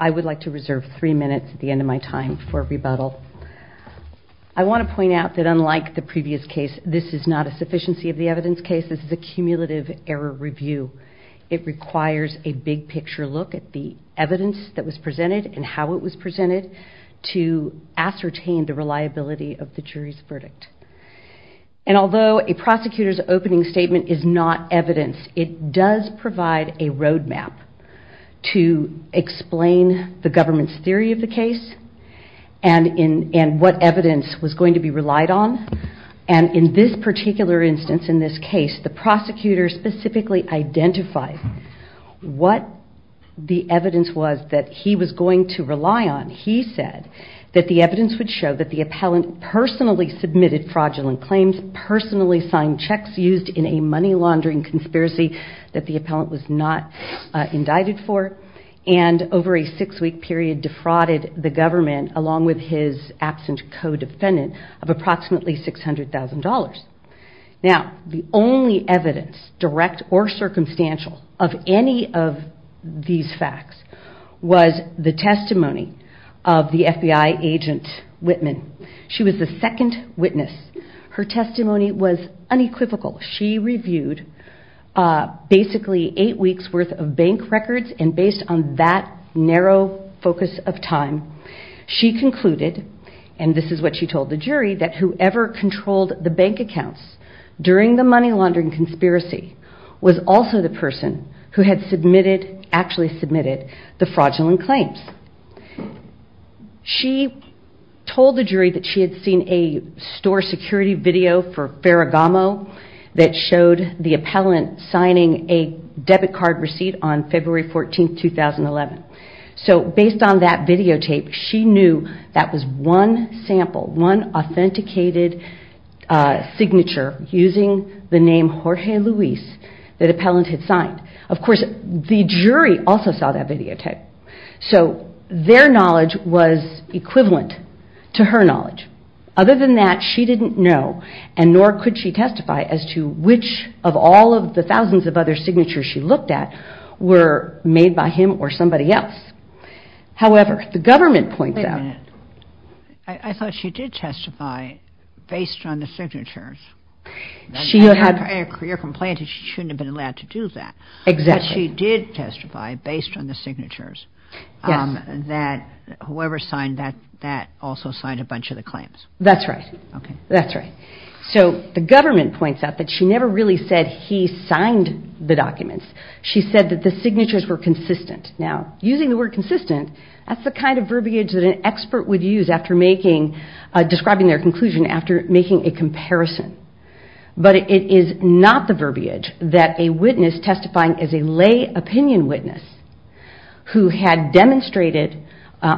I would like to reserve three minutes at the end of my time for rebuttal. I want to point out that unlike the previous case, this is not a sufficiency of the evidence case, this is a cumulative error review. It requires a big picture look at the evidence that was presented and how it was presented to ascertain the reliability of the jury's verdict. And although a prosecutor's opening statement is not evidence, it does provide a road map to explain the government's theory of the case and what evidence was going to be relied on. And in this particular instance, in this case, the prosecutor specifically identified what the evidence was that he was going to rely on. He said that the evidence would show that the appellant personally submitted fraudulent claims, personally signed checks used in a money laundering conspiracy that the appellant was not indicted for, and over a six-week period defrauded the government along with his absent co-defendant of approximately $600,000. Now the only evidence, direct or circumstantial, of any of these facts was the testimony of the FBI agent Whitman. She was the second witness. Her testimony was unequivocal. She on that narrow focus of time, she concluded, and this is what she told the jury, that whoever controlled the bank accounts during the money laundering conspiracy was also the person who had submitted, actually submitted, the fraudulent claims. She told the jury that she had seen a store security video for Ferragamo that showed the appellant signing a debit card receipt on February 14, 2011. So based on that videotape, she knew that was one sample, one authenticated signature using the name Jorge Luis that the appellant had signed. Of course, the jury also saw that videotape. So their knowledge was equivalent to her knowledge. Other than that, she didn't know and nor could she testify as to which of all of the thousands of other signatures she looked at were made by him or somebody else. However, the government points out... Wait a minute. I thought she did testify based on the signatures. She had had... A career complaint and she shouldn't have been allowed to do that. Exactly. But she did testify based on the signatures that whoever signed that also signed a bunch of the claims. That's right. Okay. That's right. So the government points out that she never really said he signed the documents. She said that the signatures were consistent. Now, using the word consistent, that's the kind of verbiage that an expert would use after making, describing their conclusion after making a comparison. But it is not the verbiage that a witness testifying as a lay opinion witness who had demonstrated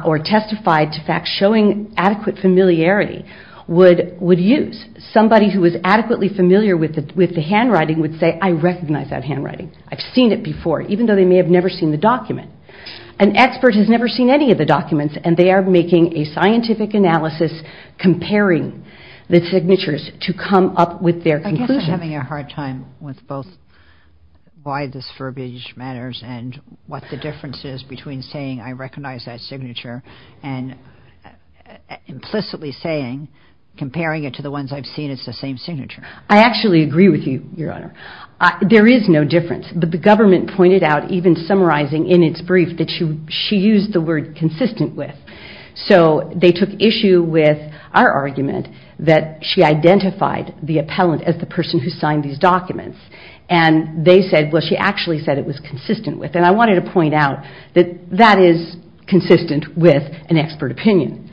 or testified to facts showing adequate familiarity would use. Somebody who is adequately familiar with the handwriting would say, I recognize that handwriting. I've seen it before, even though they may have never seen the document. An expert has never seen any of the documents and they are making a scientific analysis comparing the signatures to come up with their conclusion. I guess I'm having a hard time with both why this verbiage matters and what the difference is between saying I recognize that signature and implicitly saying, comparing it to the ones I've seen, it's the same signature. I actually agree with you, Your Honor. There is no difference. But the government pointed out, even summarizing in its brief, that she used the word consistent with. So they took issue with our argument that she identified the appellant as the person who signed these documents. And they said, well, she actually said it was consistent with. And I wanted to point out that that is consistent with an expert opinion.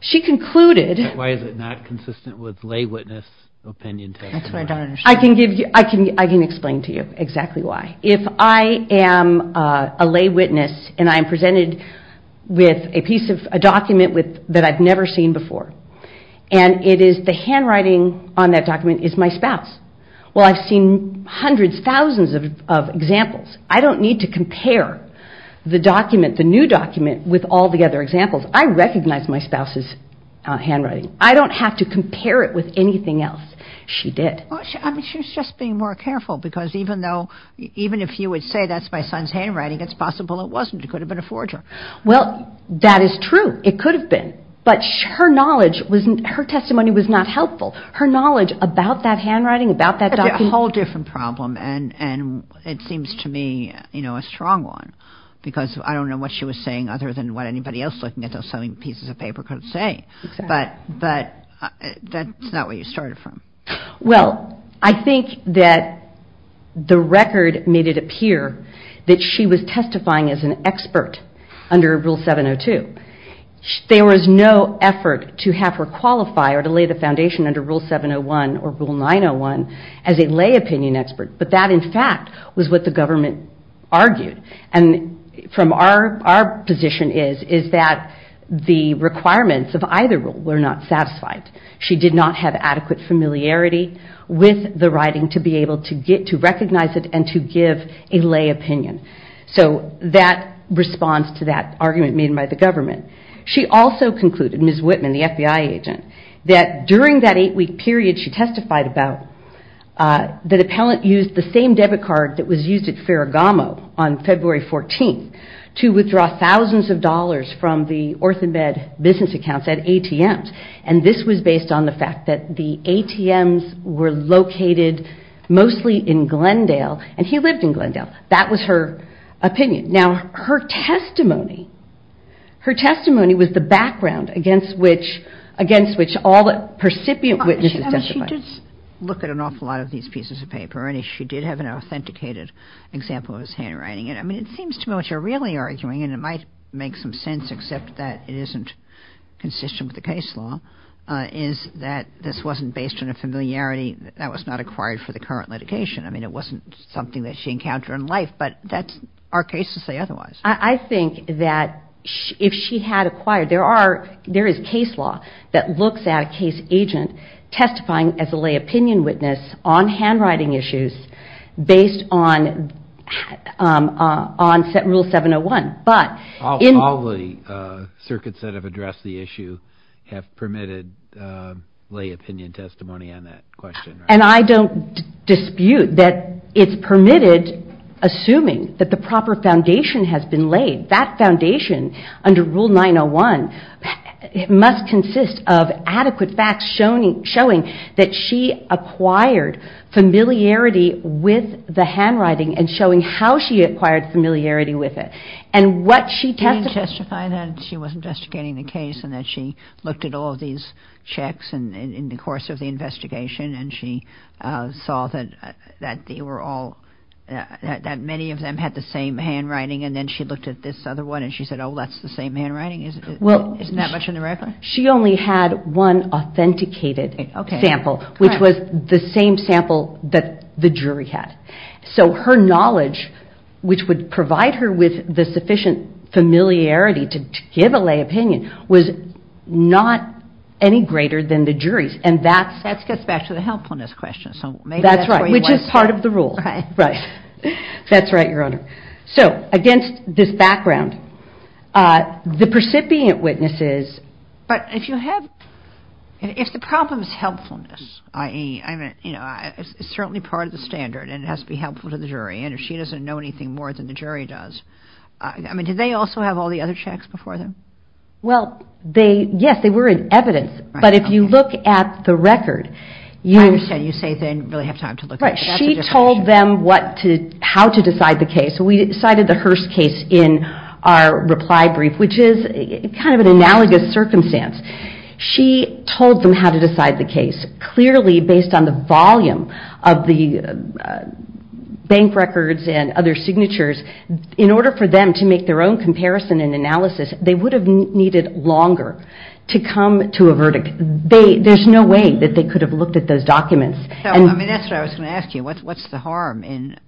She concluded... Why is it not consistent with lay witness opinion testimony? I can explain to you exactly why. If I am a lay witness and I'm presented with a piece of a document that I've never seen before, and it is the handwriting on that document is my spouse, well, I've seen hundreds, thousands of examples. I don't need to compare the document, the new document, with all the other examples. I recognize my spouse's handwriting. I don't have to compare it with anything else she did. I mean, she was just being more careful. Because even though, even if you would say that's my son's handwriting, it's possible it wasn't. It could have been a forger. Well, that is true. It could have been. But her knowledge, her testimony was not helpful. Her knowledge about that handwriting, about that document... That's a whole different problem. And it seems to me, you know, a strong one. Because I don't know what she was saying other than what anybody else looking at those pieces of paper could say. But that's not where you started from. Well, I think that the record made it appear that she was testifying as an expert under Rule 702. There was no effort to have her qualify or to lay the foundation under Rule 701 or Rule 901 as a lay opinion expert. But that, in fact, was what the government argued. And from our position is, is that the requirements of either rule were not satisfied. She did not have adequate familiarity with the writing to be able to recognize it and to give a lay opinion. So that responds to that argument made by the government. She also concluded, Ms. Whitman, the FBI agent, that during that eight-week period she testified about, that an appellant used the same debit card that was used at Ferragamo on February 14th to withdraw thousands of dollars from the OrthoMed business accounts at ATMs. And this was based on the fact that the ATMs were located mostly in Glendale. And he lived in Glendale. And that was her opinion. Now, her testimony, her testimony was the background against which, against which all the percipient witnesses testified. I mean, she did look at an awful lot of these pieces of paper. And she did have an authenticated example of his handwriting. I mean, it seems to me what you're really arguing, and it might make some sense except that it isn't consistent with the case law, is that this wasn't based on a familiarity that was not acquired for the current litigation. I mean, it wasn't something that she encountered in life. But that's our case to say otherwise. I think that if she had acquired, there are, there is case law that looks at a case agent testifying as a lay opinion witness on handwriting issues based on, on rule 701. But in- All the circuits that have addressed the issue have permitted lay opinion testimony on that question, right? And I don't dispute that it's permitted, assuming that the proper foundation has been laid. That foundation, under rule 901, must consist of adequate facts showing, showing that she acquired familiarity with the handwriting and showing how she acquired familiarity with it. And what she testified- She didn't testify that she was investigating the case and that she looked at all of these checks in the course of the investigation and she saw that they were all, that many of them had the same handwriting. And then she looked at this other one and she said, oh, that's the same handwriting. Isn't that much in the record? She only had one authenticated sample, which was the same sample that the jury had. So her knowledge, which would provide her with the sufficient familiarity to give a lay opinion, was not any greater than the jury's. And that's- That gets back to the helpfulness question. So maybe that's where you want to start. That's right. Which is part of the rule. Right. Right. That's right, Your Honor. So against this background, the recipient witnesses- But if you have, if the problem is helpfulness, i.e., I mean, you know, it's certainly part of the standard and it has to be helpful to the jury. And if she doesn't know anything more than the jury does, I mean, do they also have all the other checks before them? Well, they, yes, they were in evidence. But if you look at the record- I understand. You say they didn't really have time to look at it. Right. She told them what to, how to decide the case. We cited the Hearst case in our reply brief, which is kind of an analogous circumstance. She told them how to decide the case. Clearly, based on the volume of the bank records and other signatures, in fact, they could have needed longer to come to a verdict. There's no way that they could have looked at those documents. So, I mean, that's what I was going to ask you. What's the harm in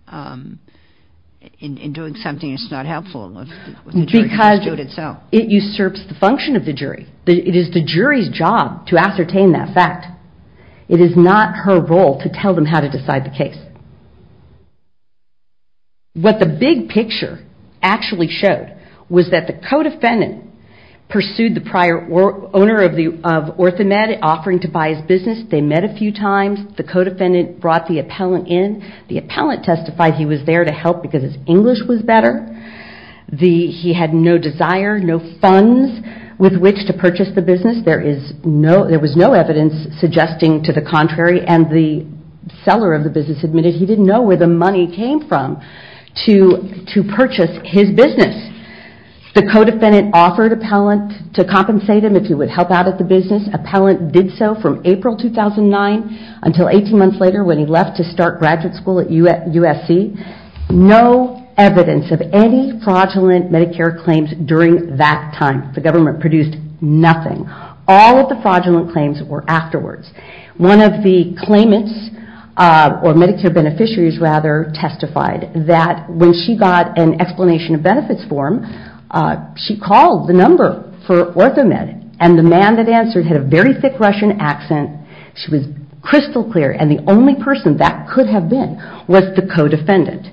doing something that's not helpful with the jury's suit itself? Because it usurps the function of the jury. It is the jury's job to ascertain that fact. It is not her role to tell them how to decide the case. What the big picture actually showed was that the co-defendant pursued the prior owner of Orthomed offering to buy his business. They met a few times. The co-defendant brought the appellant in. The appellant testified he was there to help because his English was better. He had no desire, no funds with which to purchase the business. There was no evidence suggesting to the contrary and the seller of the business admitted he didn't know where the money came from to purchase his business. The co-defendant offered appellant to compensate him if he would help out at the business. Appellant did so from April 2009 until 18 months later when he left to start graduate school at USC. No evidence of any fraudulent Medicare claims during that time. The government claims were afterwards. One of the claimants or Medicare beneficiaries rather testified that when she got an explanation of benefits form, she called the number for Orthomed and the man that answered had a very thick Russian accent. She was crystal clear and the only person that could have been was the co-defendant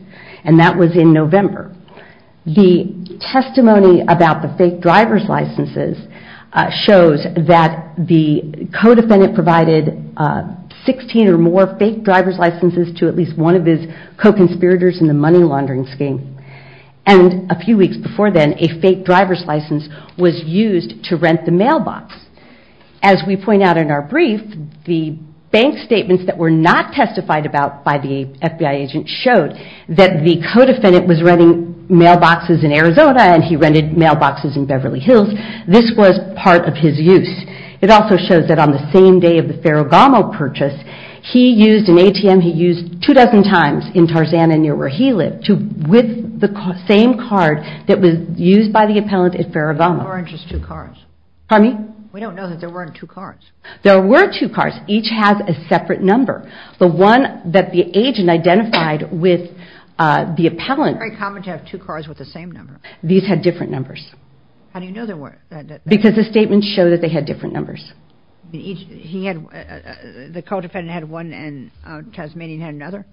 and that was in November. The testimony about the fake driver's licenses shows that the co-defendant provided 16 or more fake driver's licenses to at least one of his co-conspirators in the money laundering scheme and a few weeks before then, a fake driver's license was used to rent the mailbox. As we point out in our brief, the bank statements that were not testified about by the FBI agent showed that the co-defendant was renting mailboxes in Arizona and he rented mailboxes in Beverly Hills. This was part of his use. It also shows that on the same day of the Ferragamo purchase, he used an ATM he used two dozen times in Tarzana near where he lived with the same card that was used by the appellant at Ferragamo. We don't know that there weren't two cards. There were two cards. Each had a separate number. The one that the agent identified with the appellant had different numbers because the statements show that they had different numbers. The co-defendant had one and Tasmanian had another?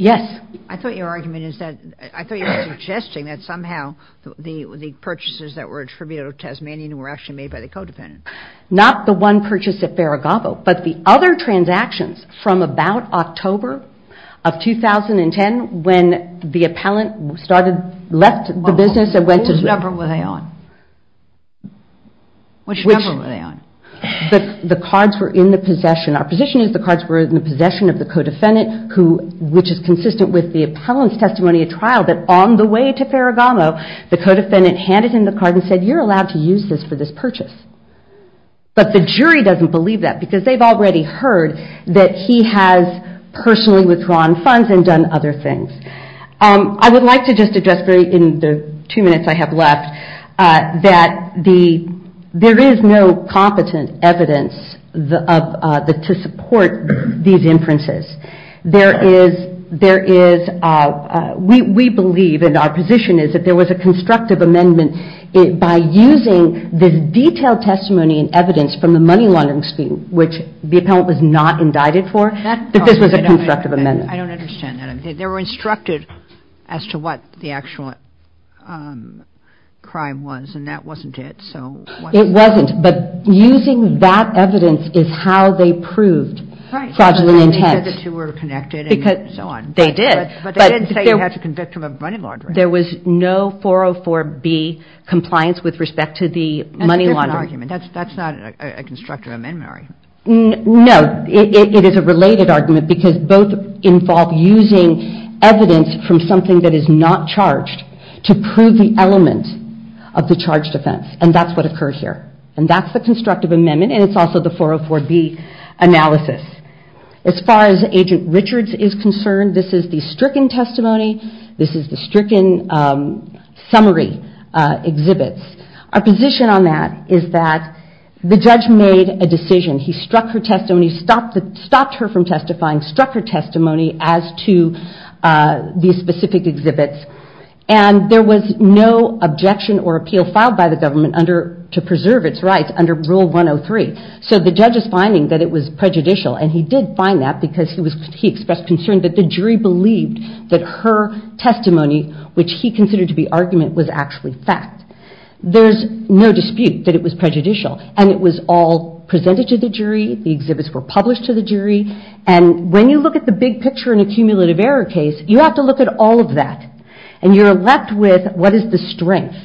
Yes. I thought you were suggesting that somehow the purchases that were attributed to Tasmanian were actually made by the co-defendant. Not the one purchased at Ferragamo, but the other transactions from about October of 2010 when the appellant left the business and went to... Which number were they on? The cards were in the possession. Our position is the cards were in the possession of the co-defendant, which is consistent with the appellant's testimony at trial that on the way to Ferragamo, the co-defendant handed him the card and said, you're allowed to use this for this purchase. But the jury doesn't believe that because they've already heard that he has personally withdrawn funds and done other things. I would like to just address in the two minutes I have left that there is no competent evidence to support these inferences. There is, we believe and our position is that there was a constructive amendment by using this detailed testimony and evidence from the money laundering scheme, which the appellant was not indicted for, that this was a constructive amendment. I don't understand that. They were instructed as to what the actual crime was and that wasn't it. It wasn't, but using that evidence is how they proved fraudulent intent. They said the two were connected and so on. They did, but they didn't say you had to convict him of money laundering. There was no 404B compliance with respect to the money laundering. That's a different argument. That's not a constructive amendment argument. No, it is a related argument because both involve using evidence from something that is not charged to prove the element of the charged offense and that's what occurred here. And that's the constructive amendment and it's also the 404B analysis. As far as Agent Richards is concerned, this is the stricken testimony. This is the stricken summary exhibits. Our position on that is that the judge made a decision. He struck her testimony, stopped her from testifying, struck her testimony as to these specific exhibits and there was no objection or appeal filed by the government to preserve its rights under Rule 103. So the judge is finding that it was prejudicial and he did find that because he expressed concern that the jury believed that her testimony, which he considered to be argument, was actually fact. There's no dispute that it was prejudicial and it was all presented to the jury. The exhibits were published to the jury and when you look at the big picture in a cumulative error case, you have to look at all of that and you're left with what is the strength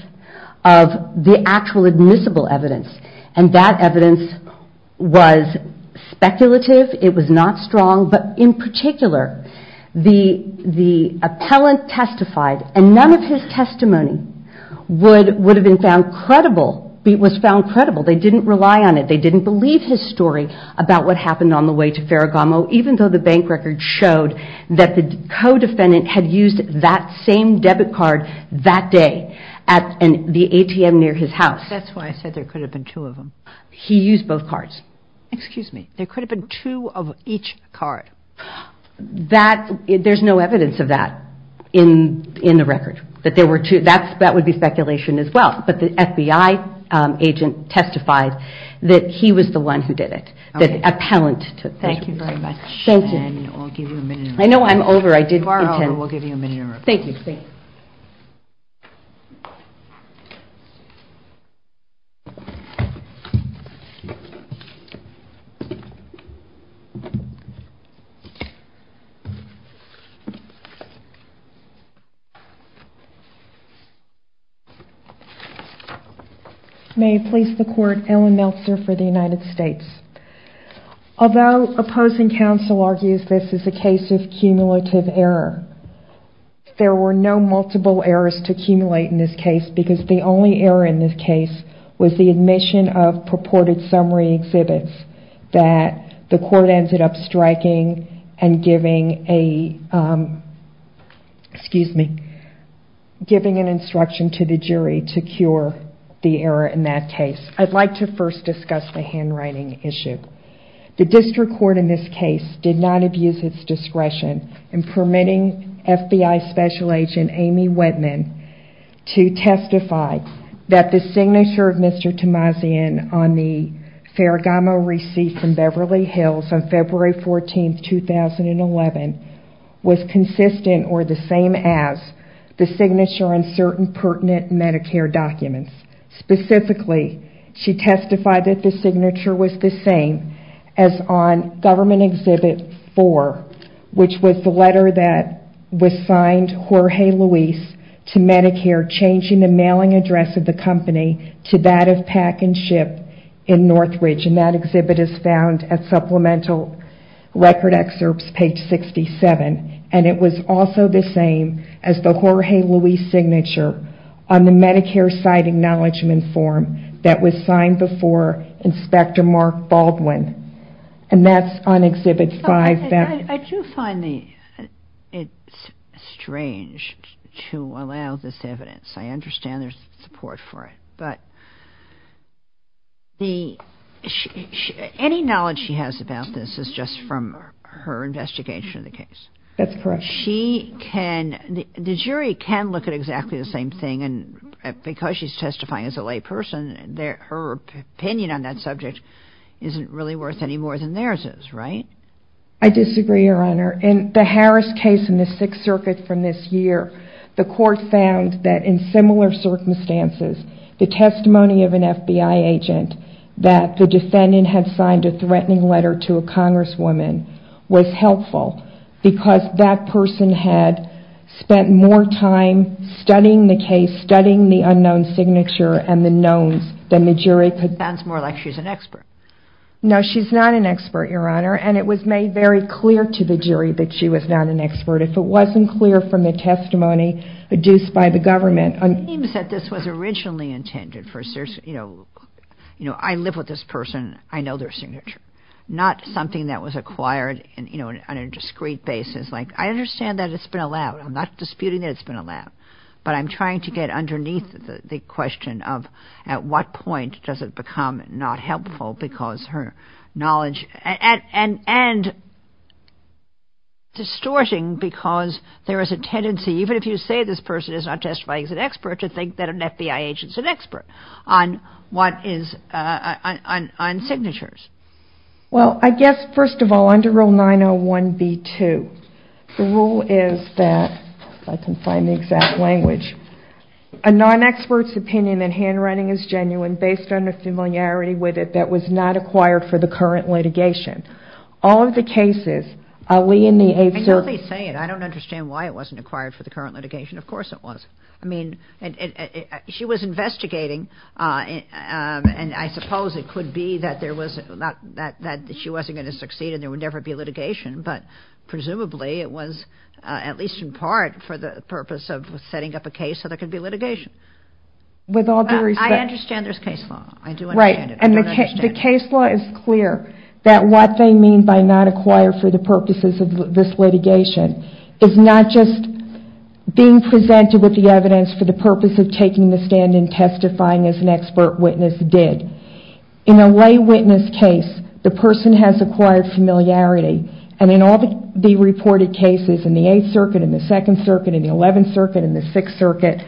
of the actual admissible evidence and that evidence was speculative. It was not strong but in particular, the appellant testified and none of his testimony would have been found credible, was found credible. They didn't rely on it. They didn't believe his story about what happened on the way to Ferragamo even though the bank record showed that the co-defendant had used that same debit card that day at the ATM near his house. That's why I said there could have been two of them. He used both cards. Excuse me. There could have been two of each card. There's no evidence of that in the record that there were two. That would be speculation as well but the FBI agent testified that he was the one who did it. The appellant. Thank you very much. Thank you. I'll give you a minute. I know I'm over. You are over. We'll give you a minute. Thank you. May I please the court, Ellen Meltzer for the United States. Although opposing counsel argues this is a case of cumulative error, there were no multiple errors to accumulate in this case because the only error in this case was the admission of purported summary exhibits that the court ended up striking and giving a, excuse me, giving an instruction to the jury to cure the error in that case. I'd like to first discuss the handwriting issue. The district court in this case did not abuse its discretion in permitting FBI special agent Amy Whitman to testify that the signature of Mr. Tamazian on the Ferragamo receipt from Beverly Hills on February 14th, 2011 was consistent or the same as the signature on certain pertinent Medicare documents. Specifically, she testified that the signature was the same as on Government Exhibit 4, which was the letter that was signed Jorge Luis to Medicare changing the mailing address of the company to that of Pack and Ship in Northridge. That exhibit is found at Supplemental Record Excerpts, page 67. It was also the same as the Jorge Luis signature on the Medicare site acknowledgment form that was signed before Inspector Mark Baldwin, and that's on Exhibit 5. I do find it strange to allow this evidence. I understand there's support for it, but any knowledge she has about this is just from her investigation of the case. The jury can look at exactly the same thing, and because she's testifying as a layperson, her opinion on that subject isn't really worth any more than theirs is, right? I disagree, Your Honor. In the Harris case in the Sixth Circuit from this year, the court found that in similar circumstances the testimony of an FBI agent that the defendant had signed a threatening letter to a Congresswoman was helpful because that person had spent more time studying the case, studying the unknown signature and the knowns than the jury could. It sounds more like she's an expert. No, she's not an expert, Your Honor, and it was made very clear to the jury that she was not an expert. If it wasn't clear from the testimony produced by the government... It seems that this was originally intended for... I live with this person. I know their signature, not something that was acquired on a discreet basis. I understand that it's been allowed. I'm not disputing that it's been allowed, but I'm trying to get underneath the question of at what point does it become not helpful because her knowledge... and distorting because there is a tendency, even if you say this person is not testifying as an expert, to Well, I guess, first of all, under Rule 901B2, the rule is that, if I can find the exact language, a non-expert's opinion in handwriting is genuine based on a familiarity with it that was not acquired for the current litigation. All of the cases... I know they say it. I don't understand why it wasn't acquired for the current litigation. Of course it was. I mean, she was investigating, and I suppose it could be that she wasn't going to succeed and there would never be litigation, but presumably it was, at least in part, for the purpose of setting up a case so there could be litigation. With all due respect... I understand there's case law. I do understand it. I do understand it. The case law is clear that what they mean by not acquired for the purposes of this litigation is not just being presented with the evidence for the purpose of taking the stand and testifying as an expert witness did. In a lay witness case, the person has acquired familiarity, and in all the reported cases in the 8th Circuit, in the 2nd Circuit, in the 11th Circuit, in the 6th Circuit,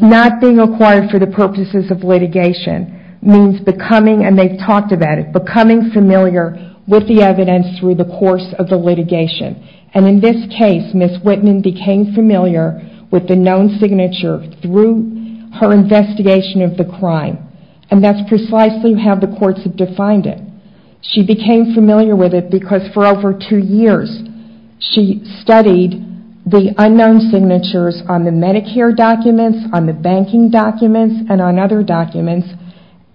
not being acquired for the purposes of litigation means becoming, and they've talked about it, becoming familiar with the evidence through the course of the litigation. In this case, Ms. Whitman became familiar with the known signature through her investigation of the crime, and that's precisely how the courts have defined it. She became familiar with it because for over two years, she studied the unknown signatures on the Medicare documents, on the banking documents, and on other documents,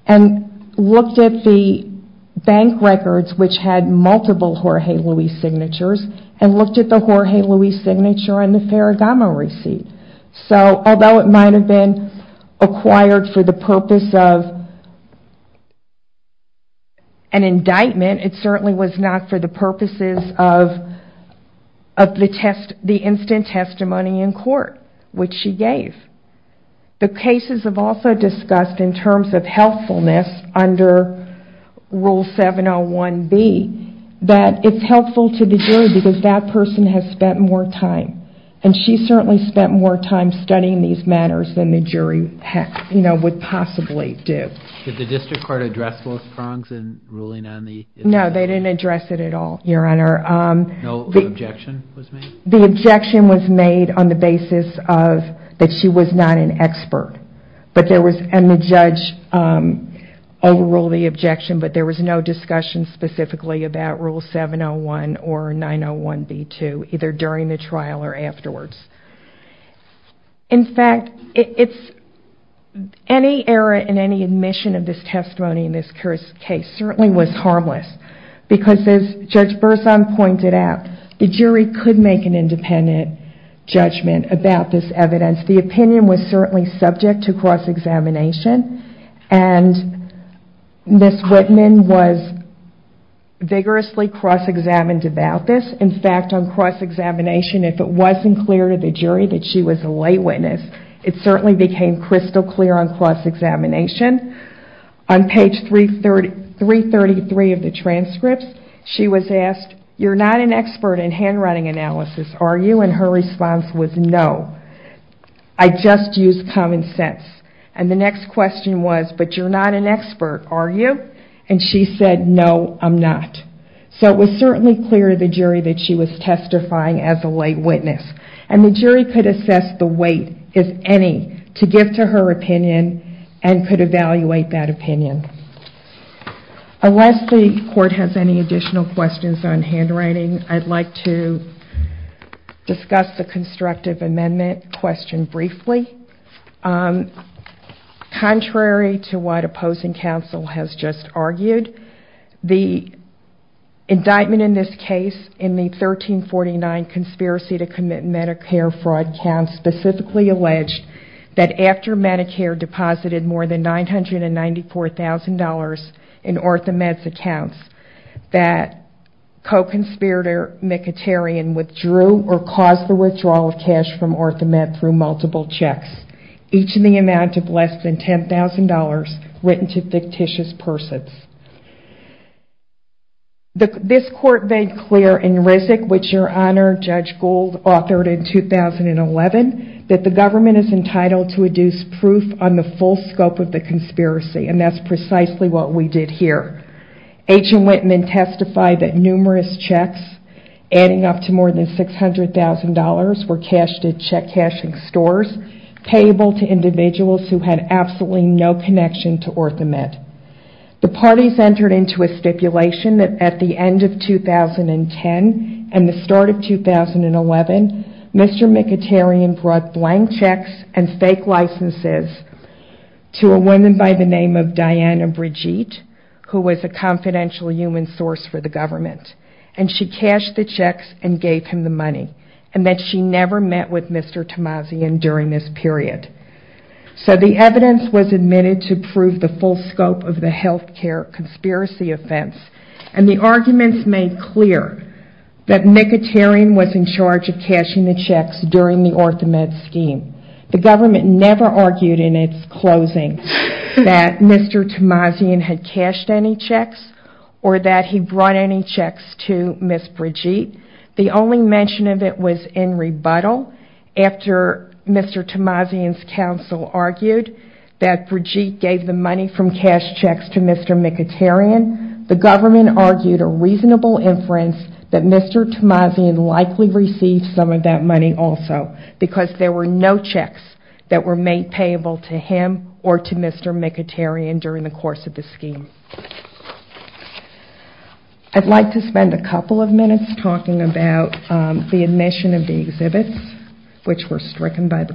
and looked at the bank records, which had multiple Jorge Luis signatures, and looked at the Jorge Luis signature on the Ferragamo receipt. So, although it might have been acquired for the purpose of an indictment, it certainly was not for the purposes of the instant testimony in court, which she gave. The cases have also discussed, in terms of helpfulness, under Rule 701B, that it's helpful to the jury because that person has spent more time, and she certainly spent more time studying these matters than the jury would possibly do. Did the district court address those prongs in ruling on the... No, they didn't address it at all, Your Honor. No objection was made? The objection was made on the basis of that she was not an expert, and the judge overruled the objection, but there was no discussion specifically about Rule 701 or 901B2, either during the trial or afterwards. In fact, any error in any admission of this testimony in this case certainly was harmless because as Judge Berzon pointed out, the jury could make an independent judgment about this evidence. The opinion was certainly subject to cross-examination, and Ms. Whitman was vigorously cross-examined about this. In fact, on cross-examination, if it wasn't clear to the jury that she was a lay witness, it certainly became crystal clear on cross-examination. On page 333 of the transcripts, she was asked, You're not an expert in handwriting analysis, are you? And her response was, No, I just use common sense. And the next question was, But you're not an expert, are you? And she said, No, I'm not. So it was certainly clear to the jury that she was testifying as a lay witness. And the jury could assess the weight, if any, to give to her opinion and could evaluate that opinion. Unless the court has any additional questions on handwriting, I'd like to discuss the constructive amendment question briefly. Contrary to what opposing counsel has just argued, the indictment in this case in the Medicare fraud count specifically alleged that after Medicare deposited more than $994,000 in Orthomed's accounts, that co-conspirator McItterian withdrew or caused the withdrawal of cash from Orthomed through multiple checks, each in the amount of less than $10,000 written to fictitious persons. This court made clear in RISC, which your Honor, Judge Gould authored in 2011, that the government is entitled to deduce proof on the full scope of the conspiracy, and that's precisely what we did here. Agent Wittman testified that numerous checks adding up to more than $600,000 were cashed at check-cashing stores, payable to individuals who had absolutely no connection to Orthomed. The parties entered into a stipulation that at the end of 2010 and the start of 2011, Mr. McItterian brought blank checks and fake licenses to a woman by the name of Diana Brigitte, who was a confidential human source for the government, and she cashed the checks and gave him the money, and that she never met with Mr. Tamazian during this period. So the evidence was admitted to prove the full scope of the healthcare conspiracy offense, and the arguments made clear that McItterian was in charge of cashing the checks during the Orthomed scheme. The government never argued in its closing that Mr. Tamazian had cashed any checks or that he brought any that Brigitte gave the money from cash checks to Mr. McItterian. The government argued a reasonable inference that Mr. Tamazian likely received some of that money also, because there were no checks that were made payable to him or to Mr. McItterian during the course of the scheme. I'd like to spend a couple of minutes talking about the admission of the exhibits, which were stricken by the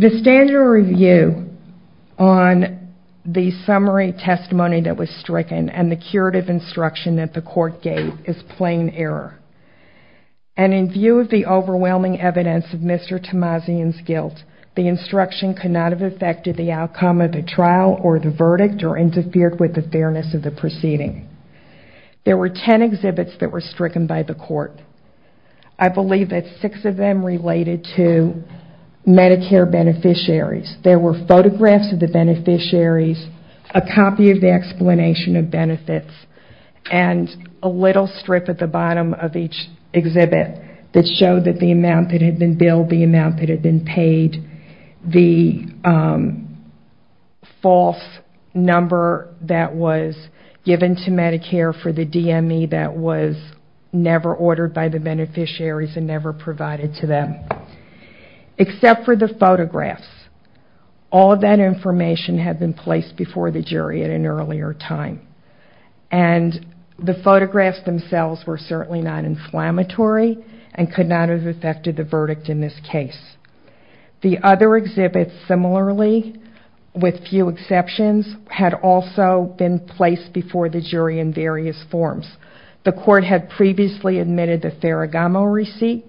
The standard review on the summary testimony that was stricken and the curative instruction that the court gave is plain error. And in view of the overwhelming evidence of Mr. Tamazian's guilt, the instruction could not have affected the outcome of the trial or the verdict or interfered with the fairness of the proceeding. There were ten exhibits that were stricken by the court. I believe that six of them related to Medicare beneficiaries. There were photographs of the beneficiaries, a copy of the explanation of benefits, and a little strip at the bottom of each exhibit that showed the amount that had been billed, the amount that had been paid, the false number that was given to Medicare for the DME that was never ordered by the beneficiaries and never provided to them. Except for the photographs, all of that information had been placed before the jury at an earlier time. And the photographs themselves were certainly not inflammatory and could not have affected the verdict in this case. The other exhibits, similarly, with few exceptions, had also been placed before the jury in various forms. The court had previously admitted the Ferragamo receipt,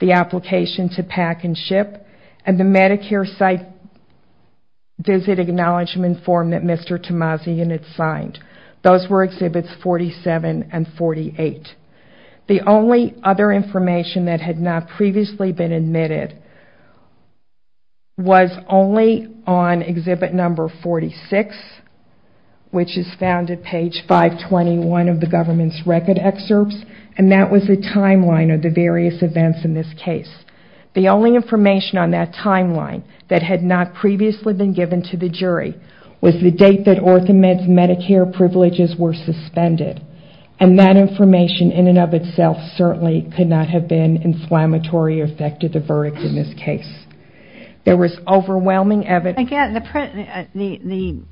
the application to pack and ship, and the Medicare site visit acknowledgement form that Mr. Tamazian had signed. Those were exhibits 47 and 48. The only other information that had not previously been admitted was only on exhibit number 46, which is found at page 521 of the government's record excerpts, and that was the timeline of the various events in this case. The only information on that timeline that had not previously been given to the jury was the date that Orthomed's Medicare privileges were suspended, and that information in and of itself certainly could not have been inflammatory or affected the verdict in this case. There was overwhelming evidence. Again, the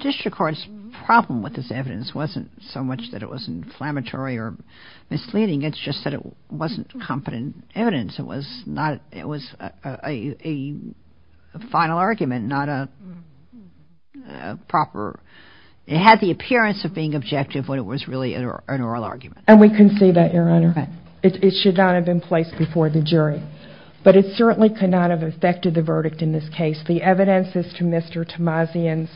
district court's problem with this evidence wasn't so much that it was inflammatory or misleading. It's just that it wasn't competent evidence. It was a final argument, not a proper... It had the appearance of being objective when it was really an oral argument. And we can see that, Your Honor. It should not have been placed before the jury. But it certainly could not have affected the verdict in this case. The evidence as to Mr. Tamazian's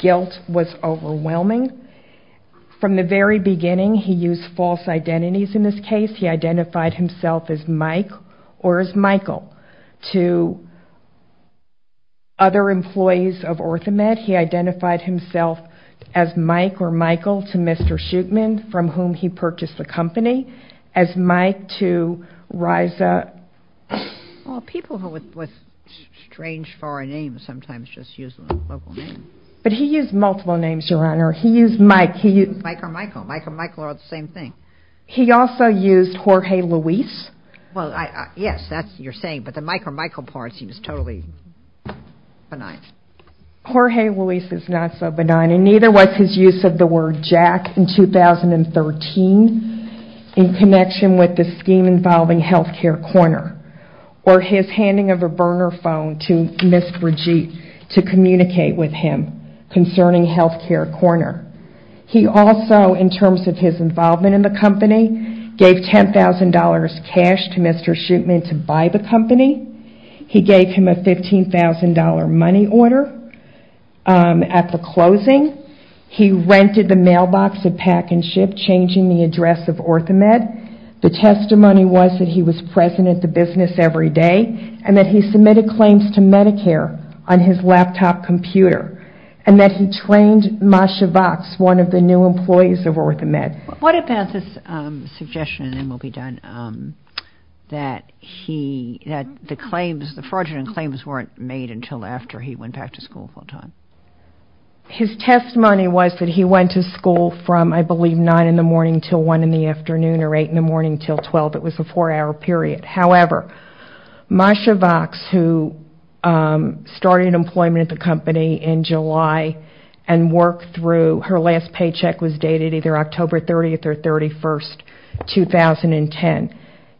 guilt was overwhelming. From the very beginning, he used false identities in this case. He identified himself as Mike or as Michael. To other employees of Orthomed, he identified himself as Mike or Michael to Mr. Schuchman, from whom he purchased the company. As Mike to Risa... Well, people with strange foreign names sometimes just use local names. But he used multiple names, Your Honor. He used Mike. Mike or Michael. Mike or Michael are all the same thing. He also used Jorge Luis. Well, yes, that's what you're saying. But the Mike or Michael part seems totally benign. Jorge Luis is not so benign. And neither was his use of the word Jack in 2013 in connection with the scheme involving Health Care Corner. Or his handing of a burner phone to Ms. Brigitte to communicate with him concerning Health Care Corner. He also, in terms of his involvement in the company, gave $10,000 cash to Mr. Schuchman to buy the company. He gave him a $15,000 money order at the closing. He rented the mailbox of Pack and Ship, changing the address of Orthomed. He also said that Mr. Schuchman was doing business every day and that he submitted claims to Medicare on his laptop computer. And that he trained Masha Vox, one of the new employees of Orthomed. What about this suggestion, and then we'll be done, that the fraudulent claims weren't made until after he went back to school full-time? His testimony was that he went to school from, I believe, 9 in the morning until 1 in the afternoon, or 8 in the morning until 12. It was a four-hour period. However, Masha Vox, who started employment at the company in July and worked through her last paycheck was dated either October 30th or 31st, 2010,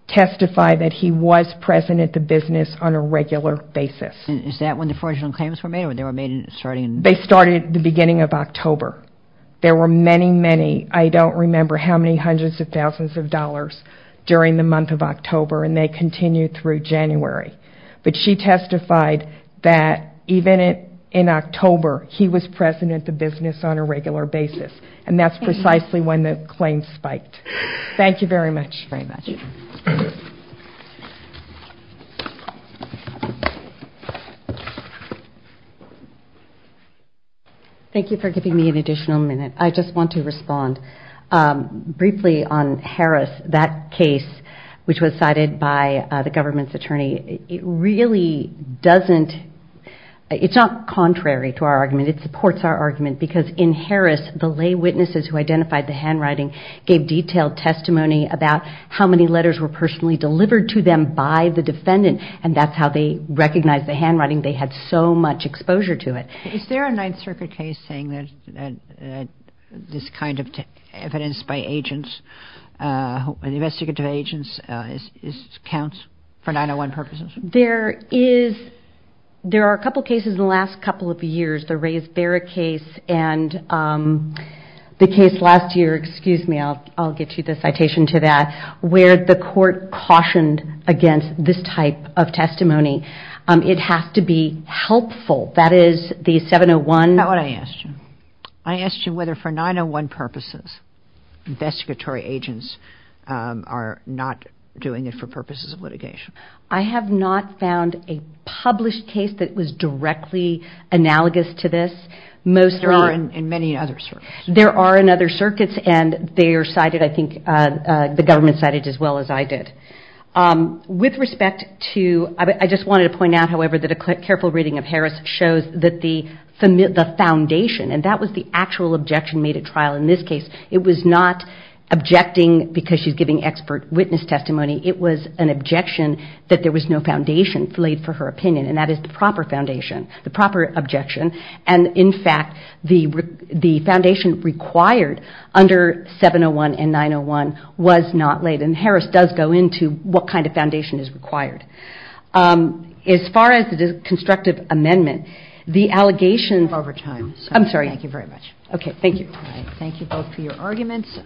testified that he was present at the business on a regular basis. Is that when the fraudulent claims were made, or they were made starting in... They started at the beginning of October. There were many, many, I don't remember how many hundreds of thousands of dollars during the month of October, and they continued through January. But she testified that even in October, he was present at the business on a regular basis, and that's precisely when the claims spiked. Thank you very much. Thank you for giving me an additional minute. I just want to respond briefly on Harris, that case which was cited by the government's attorney. It really doesn't... It's not contrary to our argument. It supports our argument, because in Harris, the lay witnesses who identified the handwriting gave detailed testimony about how many letters were personally delivered to them by the defendant, and that's how they recognized the handwriting. They had so much exposure to it. Is there a Ninth Circuit case saying that this kind of evidence by agents, investigative agents, counts for 901 purposes? There are a couple of cases in the last couple of years, the Rays-Barrett case and the case last year, excuse me, I'll get you the citation to that, where the court cautioned against this type of testimony. It has to be helpful. That is the 701... That's what I asked you. I asked you whether for 901 purposes, investigatory agents are not doing it for purposes of litigation. I have not found a published case that was directly analogous to this. There are in many other circuits. There are in other circuits, and they are cited, I think, the government cited as well as I did. With respect to... I just wanted to point out, however, that a careful reading of Harris shows that the foundation, and that was the actual objection made at trial in this case. It was not objecting because she's giving expert witness testimony. It was an objection that there was no foundation laid for her opinion, and that is the proper foundation, the proper objection. In fact, the foundation required under 701 and 901 was not laid. Harris does go into what kind of foundation is required. As far as the constructive amendment, the allegation... Thank you both for your arguments.